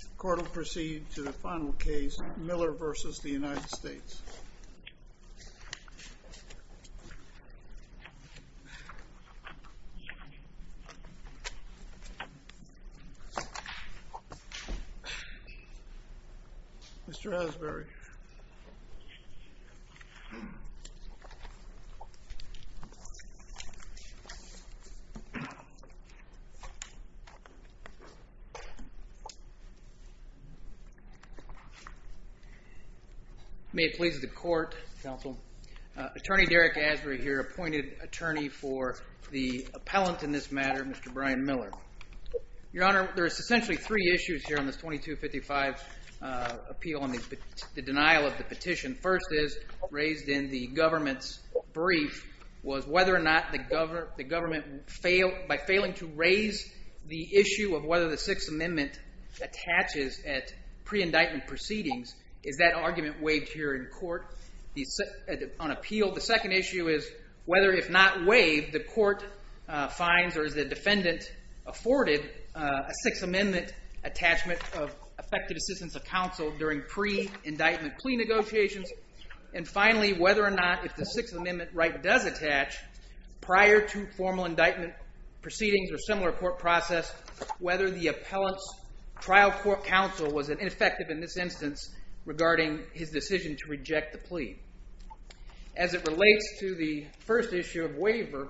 The court will proceed to the final case, Miller v. The United States. Mr. Hasbury. May it please the court, counsel. Attorney Derek Hasbury here, appointed attorney for the appellant in this matter, Mr. Brian Miller. Your Honor, there is essentially three issues here in this 2255 appeal on the denial of the petition. First is, raised in the government's brief, was whether or not the government, by failing to raise the issue of whether the Sixth Amendment attaches at pre-indictment proceedings, is that argument waived here in court on appeal? The second issue is whether, if not waived, the court finds, or is the defendant afforded, a Sixth Amendment attachment of effective assistance of counsel during pre-indictment plea negotiations? And finally, whether or not, if the Sixth Amendment right does attach, prior to formal indictment proceedings or similar court process, whether the appellant's trial court counsel was ineffective in this instance regarding his decision to reject the plea? As it relates to the first issue of waiver,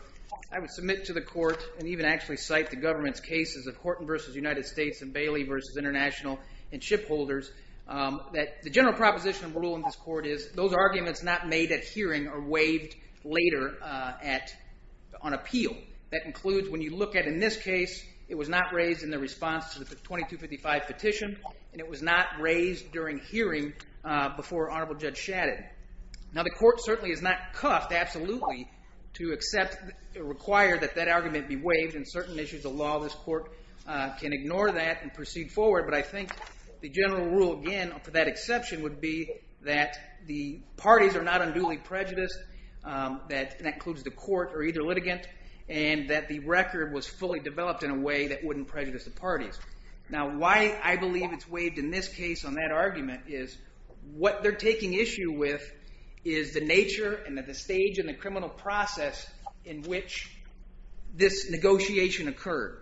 I would submit to the court, and even actually cite the government's cases of Horton v. United States and Bailey v. International and shipholders, that the general proposition of rule in this court is, those arguments not made at hearing are waived later on appeal. That includes when you look at, in this case, it was not raised in the response to the 2255 petition, and it was not raised during hearing before Honorable Judge Shadid. Now the court certainly is not cuffed, absolutely, to accept or require that that argument be waived. In certain issues of law, this court can ignore that and proceed forward. But I think the general rule, again, for that exception, would be that the parties are not unduly prejudiced, and that includes the court or either litigant, and that the record was fully developed in a way that wouldn't prejudice the parties. Now why I believe it's waived in this case on that argument is what they're taking issue with is the nature and the stage and the criminal process in which this negotiation occurred.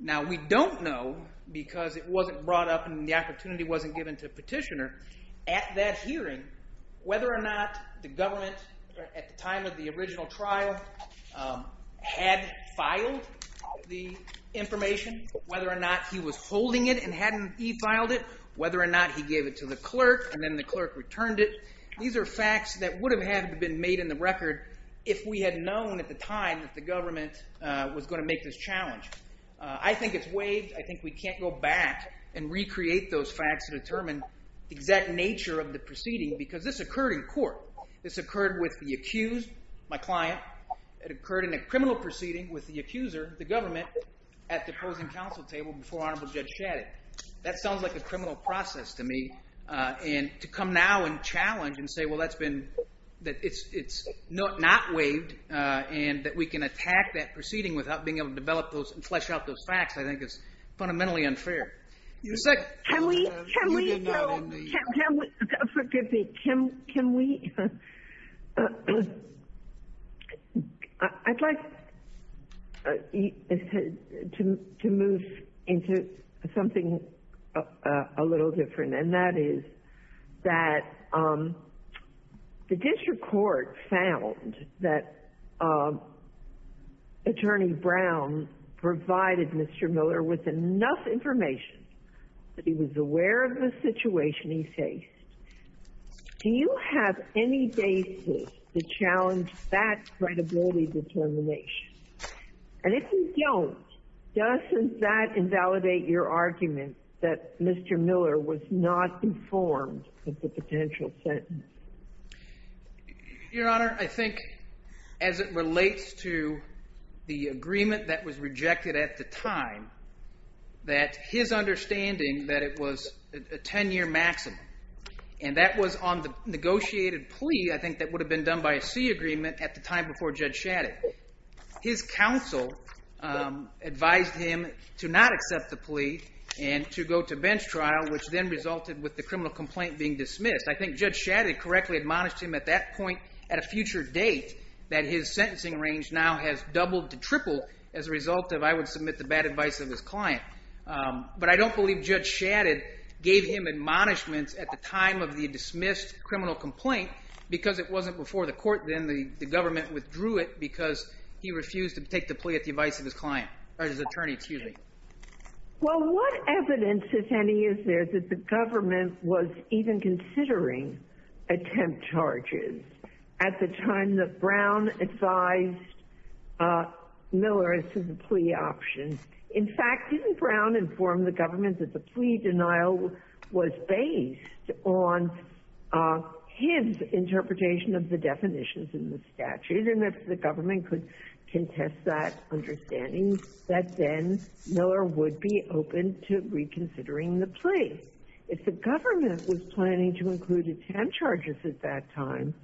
Now we don't know, because it wasn't brought up and the opportunity wasn't given to petitioner, at that hearing, whether or not the government, at the time of the original trial, had filed the information. Whether or not he was holding it and hadn't e-filed it. Whether or not he gave it to the clerk, and then the clerk returned it. These are facts that would have had been made in the record if we had known at the time that the government was going to make this challenge. I think it's waived. I think we can't go back and recreate those facts to determine the exact nature of the proceeding, because this occurred in court. This occurred with the accused, my client. It occurred in a criminal proceeding with the accuser, the government, at the opposing counsel table before Honorable Judge Shadid. That sounds like a criminal process to me. And to come now and challenge and say, well, it's not waived, and that we can attack that proceeding without being able to develop those and flesh out those facts, I think is fundamentally unfair. Can we go? Forgive me. Can we? I'd like to move into something a little different, and that is that the district court found that Attorney Brown provided Mr. Miller with enough information that he was aware of the situation he faced. Do you have any basis to challenge that credibility determination? And if you don't, doesn't that invalidate your argument that Mr. Miller was not informed of the potential sentence? Your Honor, I think as it relates to the agreement that was rejected at the time, that his understanding that it was a 10-year maximum, and that was on the negotiated plea, I think, that would have been done by a C agreement at the time before Judge Shadid. His counsel advised him to not accept the plea and to go to bench trial, which then resulted with the criminal complaint being dismissed. I think Judge Shadid correctly admonished him at that point at a future date that his sentencing range now has doubled to tripled as a result of I would submit the bad advice of his client. But I don't believe Judge Shadid gave him admonishments at the time of the dismissed criminal complaint because it wasn't before the court, then the government withdrew it because he refused to take the plea at the advice of his client, or his attorney, excuse me. Well, what evidence, if any, is there that the government was even considering attempt charges at the time that Brown advised Miller as to the plea option? In fact, didn't Brown inform the government that the plea denial was based on his interpretation of the definitions in the statute? And if the government could contest that understanding, that then Miller would be open to reconsidering the plea. If the government was planning to include attempt charges at that time,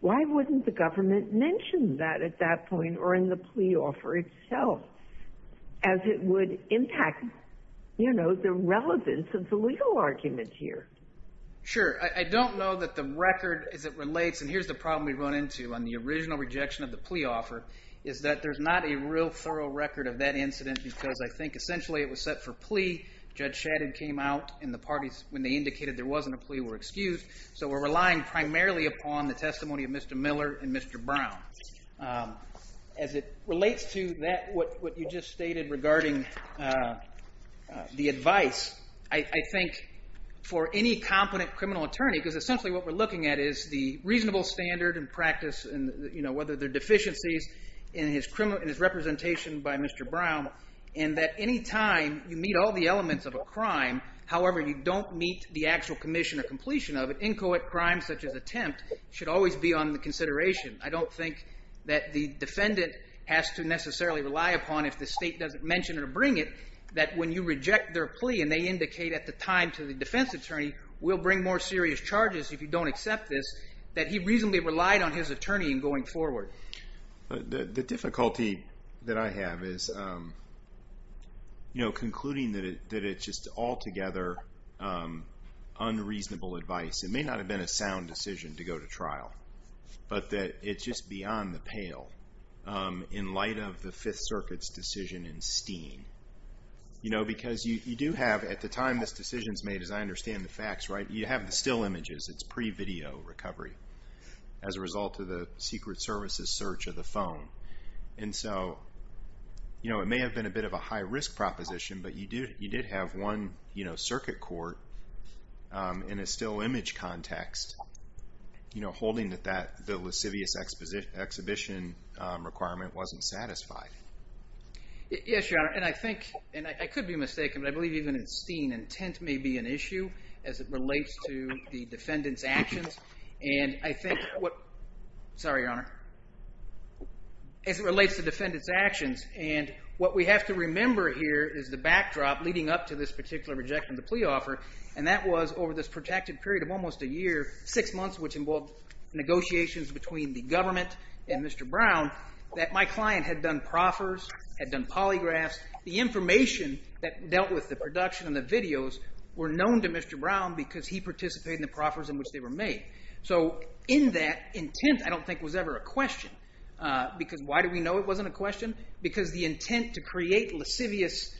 why wouldn't the government mention that at that point or in the plea offer itself? As it would impact, you know, the relevance of the legal argument here. Sure. I don't know that the record as it relates, and here's the problem we run into on the original rejection of the plea offer, is that there's not a real thorough record of that incident because I think essentially it was set for plea. Judge Shadid came out in the parties when they indicated there wasn't a plea or excuse, so we're relying primarily upon the testimony of Mr. Miller and Mr. Brown. As it relates to what you just stated regarding the advice, I think for any competent criminal attorney, because essentially what we're looking at is the reasonable standard and practice, whether they're deficiencies in his representation by Mr. Brown, and that any time you meet all the elements of a crime, however you don't meet the actual commission or completion of it, any co-ed crime such as attempt should always be on the consideration. I don't think that the defendant has to necessarily rely upon, if the state doesn't mention it or bring it, that when you reject their plea and they indicate at the time to the defense attorney, we'll bring more serious charges if you don't accept this, that he reasonably relied on his attorney in going forward. The difficulty that I have is concluding that it's just altogether unreasonable advice. It may not have been a sound decision to go to trial, but that it's just beyond the pale in light of the Fifth Circuit's decision in Steen. Because you do have, at the time this decision's made, as I understand the facts, you have the still images. It's pre-video recovery as a result of the Secret Service's search of the phone. And so it may have been a bit of a high-risk proposition, but you did have one circuit court in a still image context holding that the lascivious exhibition requirement wasn't satisfied. Yes, Your Honor, and I think, and I could be mistaken, but I believe even in Steen, intent may be an issue as it relates to the defendant's actions. And I think what, sorry, Your Honor, as it relates to defendant's actions, and what we have to remember here is the backdrop leading up to this particular rejection of the plea offer. And that was over this protracted period of almost a year, six months, which involved negotiations between the government and Mr. Brown, that my client had done proffers, had done polygraphs. The information that dealt with the production and the videos were known to Mr. Brown because he participated in the proffers in which they were made. So in that, intent I don't think was ever a question, because why do we know it wasn't a question? Because the intent to create lascivious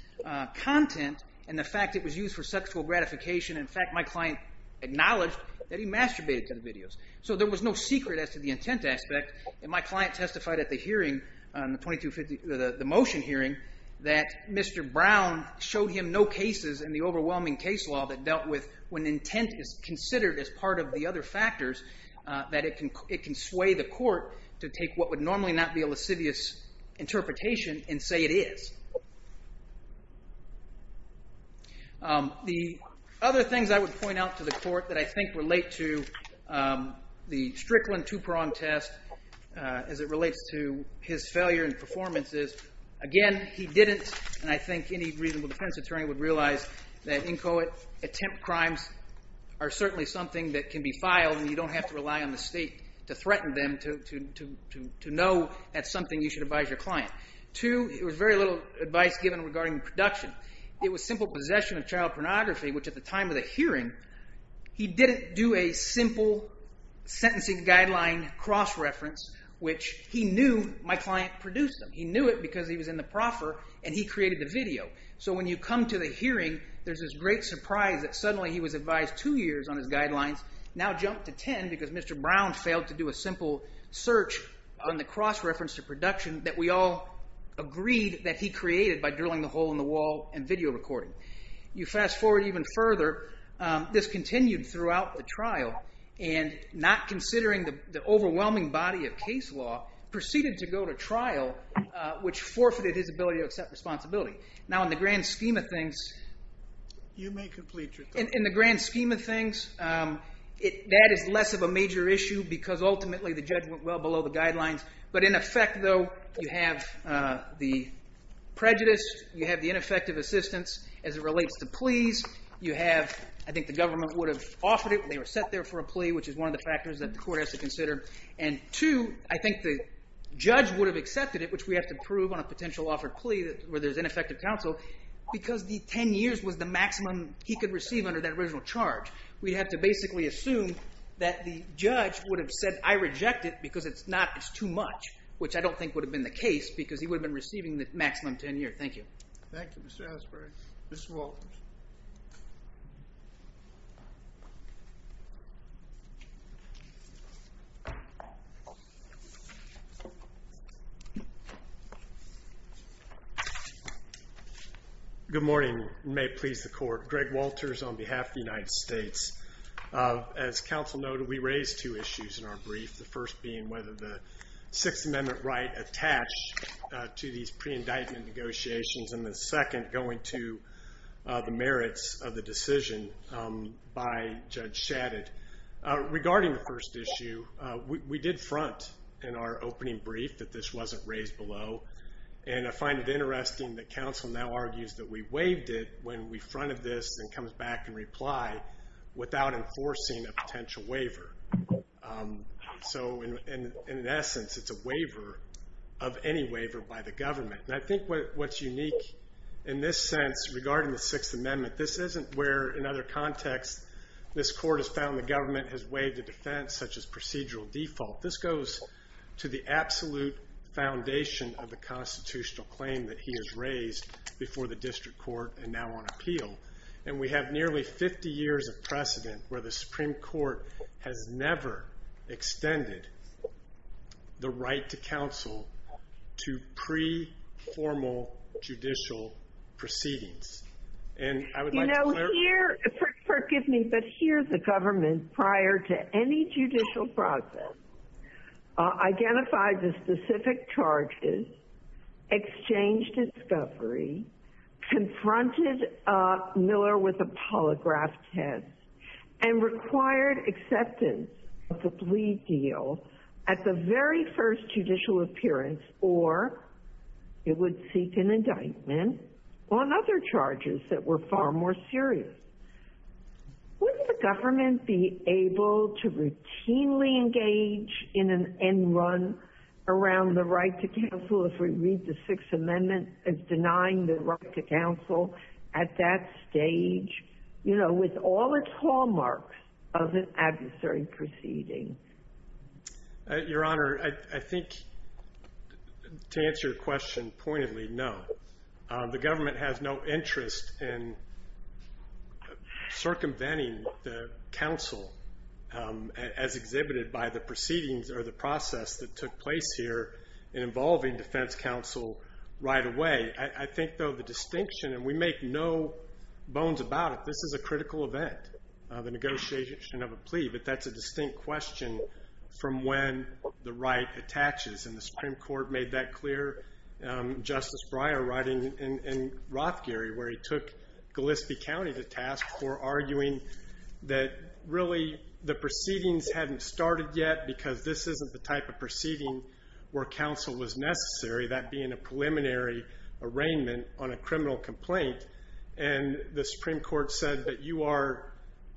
content and the fact it was used for sexual gratification, in fact, my client acknowledged that he masturbated to the videos. that it can sway the court to take what would normally not be a lascivious interpretation and say it is. The other things I would point out to the court that I think relate to the Strickland two-prong test as it relates to his failure in performances, again, he didn't, and I think any reasonable defense attorney would realize that inchoate attempt crimes are certainly something that can be filed and you don't have to rely on the state to threaten them to know that's something you should advise your client. Two, it was very little advice given regarding production. It was simple possession of child pornography, which at the time of the hearing, he didn't do a simple sentencing guideline cross-reference, which he knew my client produced them. He knew it because he was in the proffer and he created the video. So when you come to the hearing, there's this great surprise that suddenly he was advised two years on his guidelines, now jumped to 10 because Mr. Brown failed to do a simple search on the cross-reference to production that we all agreed that he created by drilling the hole in the wall and video recording. You fast forward even further, this continued throughout the trial and not considering the overwhelming body of case law, proceeded to go to trial, which forfeited his ability to accept responsibility. Now in the grand scheme of things, that is less of a major issue because ultimately the judge went well below the guidelines. But in effect though, you have the prejudice, you have the ineffective assistance as it relates to pleas. You have, I think the government would have offered it when they were set there for a plea, which is one of the factors that the court has to consider. And two, I think the judge would have accepted it, which we have to prove on a potential offered plea where there's ineffective counsel, because the 10 years was the maximum he could receive under that original charge. We'd have to basically assume that the judge would have said, I reject it because it's not, it's too much, which I don't think would have been the case because he would have been receiving the maximum 10 year. Thank you. Thank you, Mr. Asbury. Mr. Walters. Good morning and may it please the court. Greg Walters on behalf of the United States. As counsel noted, we raised two issues in our brief. The first being whether the Sixth Amendment right attached to these pre-indictment negotiations and the second going to the merits of the decision by Judge Shadid. Regarding the first issue, we did front in our opening brief that this wasn't raised below. And I find it interesting that counsel now argues that we waived it when we fronted this and comes back and reply without enforcing a potential waiver. So in essence, it's a waiver of any waiver by the government. And I think what's unique in this sense regarding the Sixth Amendment, this isn't where in other contexts this court has found the government has waived a defense such as procedural default. This goes to the absolute foundation of the constitutional claim that he has raised before the district court and now on appeal. And we have nearly 50 years of precedent where the Supreme Court has never extended the right to counsel to pre-formal judicial proceedings. You know here, forgive me, but here the government prior to any judicial process identified the specific charges, exchanged discovery, confronted Miller with a polygraph test, and required acceptance of the plea deal at the very first judicial appearance or it would seek an indictment on other charges that were far more serious. Would the government be able to routinely engage in an end run around the right to counsel if we read the Sixth Amendment as denying the right to counsel at that stage? You know, with all its hallmarks of an adversary proceeding. Your Honor, I think to answer your question pointedly, no. The government has no interest in circumventing the counsel as exhibited by the proceedings or the process that took place here involving defense counsel right away. I think though the distinction, and we make no bones about it, this is a critical event. The negotiation of a plea, but that's a distinct question from when the right attaches. And the Supreme Court made that clear. Justice Breyer writing in Rothgary where he took Gillespie County to task for arguing that really the proceedings hadn't started yet because this isn't the type of proceeding where counsel was necessary. That being a preliminary arraignment on a criminal complaint. And the Supreme Court said that you are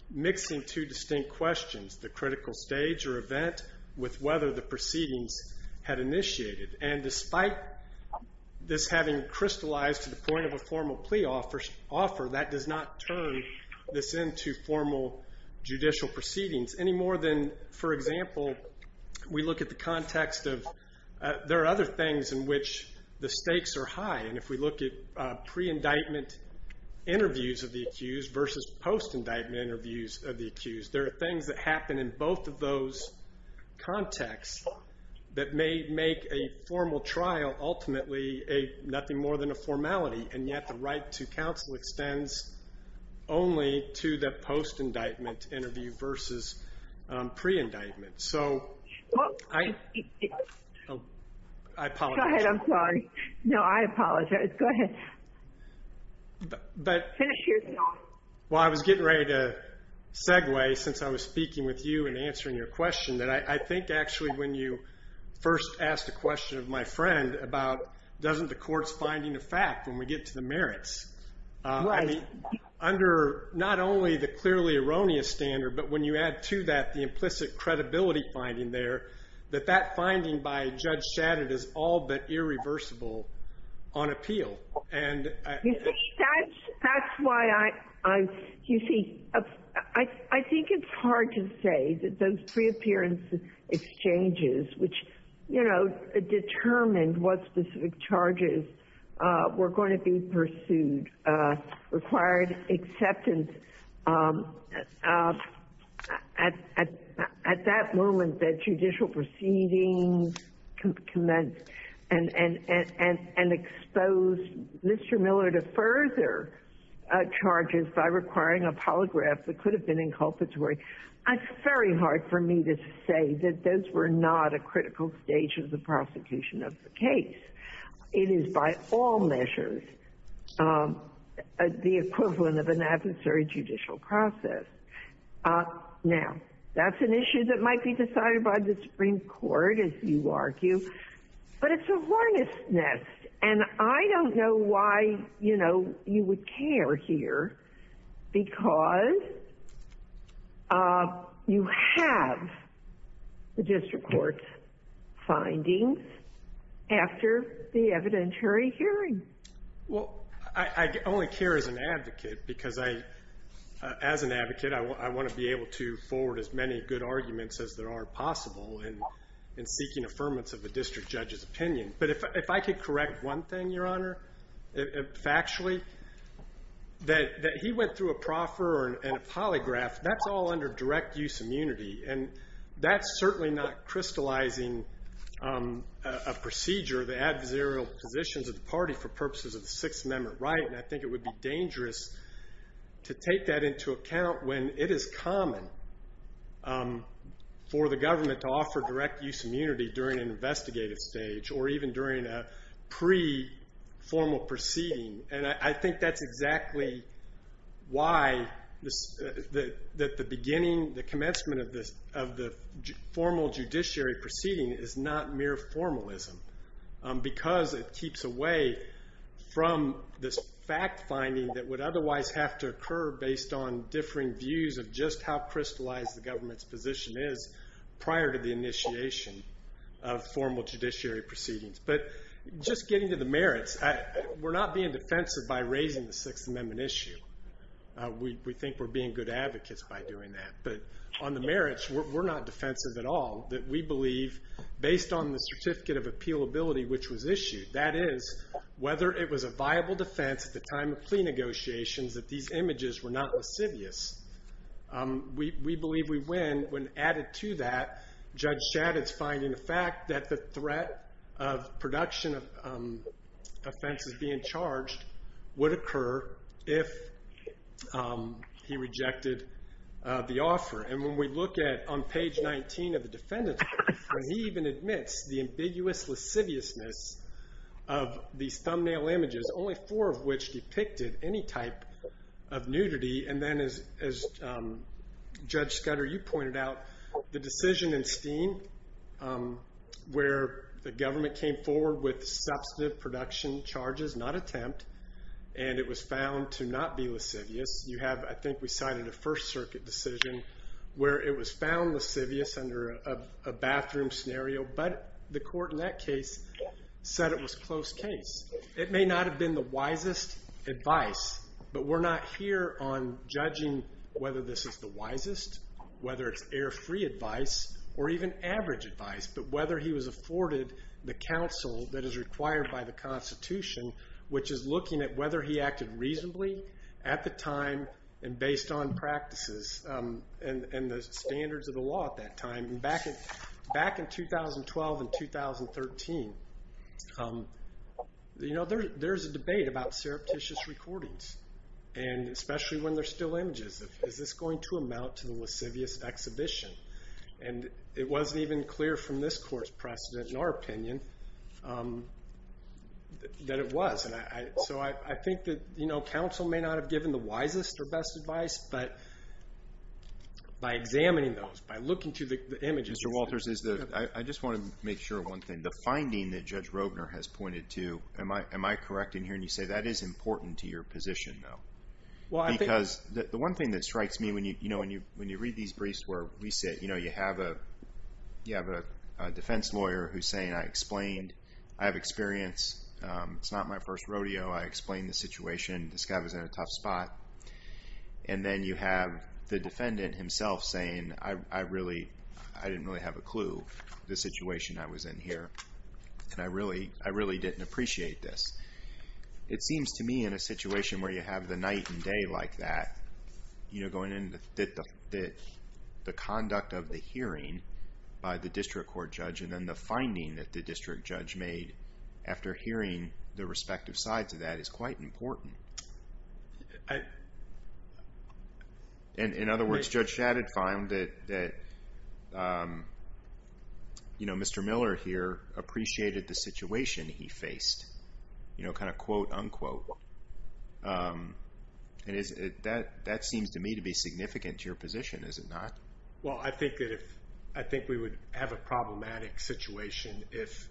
mixing two distinct questions. The critical stage or event with whether the proceedings had initiated. And despite this having crystallized to the point of a formal plea offer, that does not turn this into formal judicial proceedings. Any more than, for example, we look at the context of, there are other things in which the stakes are high. And if we look at pre-indictment interviews of the accused versus post-indictment interviews of the accused. There are things that happen in both of those contexts that may make a formal trial ultimately nothing more than a formality. And yet the right to counsel extends only to the post-indictment interview versus pre-indictment. So, I apologize. Go ahead, I'm sorry. No, I apologize. Go ahead. Finish your thought. Well, I was getting ready to segue since I was speaking with you and answering your question. That I think actually when you first asked a question of my friend about doesn't the court's finding a fact when we get to the merits. Right. I mean, under not only the clearly erroneous standard, but when you add to that the implicit credibility finding there. That that finding by Judge Shadid is all but irreversible on appeal. That's why I, you see, I think it's hard to say that those pre-appearance exchanges, which, you know, determined what specific charges were going to be pursued, required acceptance. At that moment, the judicial proceedings commenced and exposed Mr. Miller to further charges by requiring a polygraph that could have been inculpatory. It's very hard for me to say that those were not a critical stage of the prosecution of the case. It is by all measures the equivalent of an adversary judicial process. Now, that's an issue that might be decided by the Supreme Court, as you argue. But it's a hornet's nest. And I don't know why, you know, you would care here because you have the district court's findings after the evidentiary hearing. Well, I only care as an advocate because I, as an advocate, I want to be able to forward as many good arguments as there are possible in seeking affirmance of the district judge's opinion. But if I could correct one thing, Your Honor, factually, that he went through a proffer and a polygraph, that's all under direct use immunity. And that's certainly not crystallizing a procedure, the adversarial positions of the party for purposes of the Sixth Amendment right. And I think it would be dangerous to take that into account when it is common for the government to offer direct use immunity during an investigative stage, or even during a pre-formal proceeding. And I think that's exactly why that the beginning, the commencement of the formal judiciary proceeding is not mere formalism. Because it keeps away from this fact finding that would otherwise have to occur based on differing views of just how crystallized the government's position is prior to the initiation of formal judiciary proceedings. But just getting to the merits, we're not being defensive by raising the Sixth Amendment issue. We think we're being good advocates by doing that. But on the merits, we're not defensive at all, that we believe based on the certificate of appealability which was issued. That is, whether it was a viable defense at the time of plea negotiations that these images were not lascivious. We believe we win when added to that, Judge Shadid's finding the fact that the threat of production of offenses being charged would occur if he rejected the offer. And when we look at, on page 19 of the defendant's brief, where he even admits the ambiguous lasciviousness of these thumbnail images, only four of which depicted any type of nudity. And then as Judge Scudder, you pointed out, the decision in Steen where the government came forward with substantive production charges, not attempt, and it was found to not be lascivious. You have, I think we cited a First Circuit decision where it was found lascivious under a bathroom scenario, but the court in that case said it was close case. It may not have been the wisest advice, but we're not here on judging whether this is the wisest, whether it's error-free advice, or even average advice. But whether he was afforded the counsel that is required by the Constitution, which is looking at whether he acted reasonably at the time, and based on practices and the standards of the law at that time. Back in 2012 and 2013, Judge Scudder said he was not going to make a decision based on the statute of limitations. You know, there's a debate about surreptitious recordings, and especially when they're still images. Is this going to amount to the lascivious exhibition? And it wasn't even clear from this court's precedent, in our opinion, that it was. So I think that counsel may not have given the wisest or best advice, but by examining those, by looking through the images... I just want to make sure of one thing. The finding that Judge Robner has pointed to, am I correct in hearing you say that is important to your position, though? Because the one thing that strikes me when you read these briefs where we sit, you know, you have a defense lawyer who's saying, I explained. I have experience. It's not my first rodeo. I explained the situation. This guy was in a tough spot. And then you have the defendant himself saying, I didn't really have a clue. The situation I was in here. And I really didn't appreciate this. It seems to me in a situation where you have the night and day like that, the conduct of the hearing by the district court judge, and then the finding that the district judge made after hearing the respective sides of that is quite important. And in other words, Judge Shadid found that Mr. Miller here appreciated the situation he faced. And that seems to me to be significant to your position, is it not? Well, I think we would have a problematic situation if...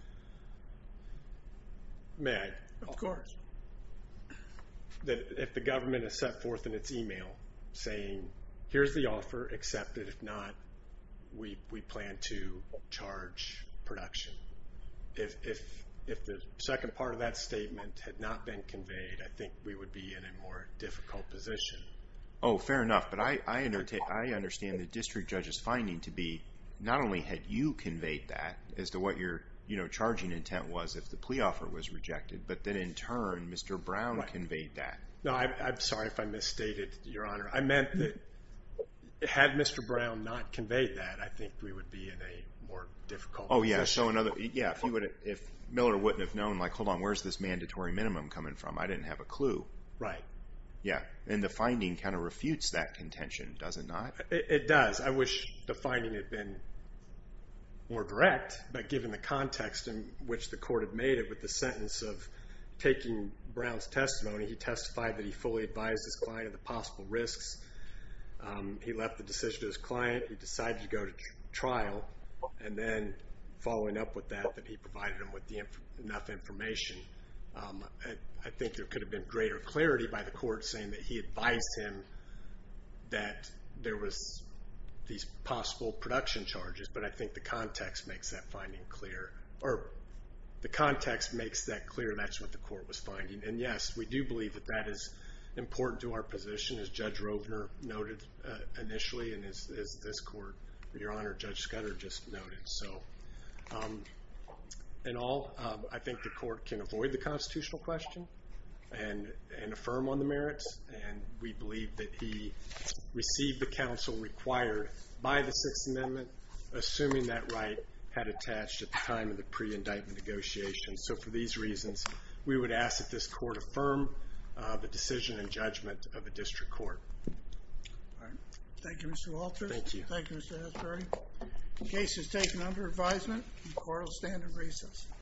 May I? Of course. If the government has set forth in its email saying, here's the offer, accept it. If not, we plan to charge production. If the second part of that statement had not been conveyed, I think we would be in a more difficult position. Oh, fair enough. But I understand the district judge's finding to be not only had you conveyed that as to what your charging intent was if the plea offer was rejected, but that in turn, Mr. Brown conveyed that. No, I'm sorry if I misstated, Your Honor. I meant that had Mr. Brown not conveyed that, I think we would be in a more difficult position. Oh, yeah. If Miller wouldn't have known, like, hold on, where's this mandatory minimum coming from? I didn't have a clue. Right. And the finding kind of refutes that contention, does it not? It does. I wish the finding had been more direct, but given the context in which the court had made it with the sentence of taking Brown's testimony, he testified that he fully advised his client of the possible risks. He left the decision to his client. He decided to go to trial, and then following up with that, that he provided him with enough information. I think there could have been greater clarity by the court saying that he advised him that there was these possible production charges, but I think the context makes that clear that's what the court was finding. And yes, we do believe that that is important to our position, as Judge Rovner noted initially, and as this court, Your Honor, Judge Scudder just noted. In all, I think the court can avoid the constitutional question and affirm on the merits, and we believe that he received the counsel required by the Sixth Amendment, assuming that right had attached at the time of the pre-indictment negotiations. So for these reasons, we would ask that this court affirm the decision and judgment of a district court. All right. Thank you, Mr. Walter. Thank you. Thank you, Mr. Hasbury. The case is taken under advisement and the court will stand in recess.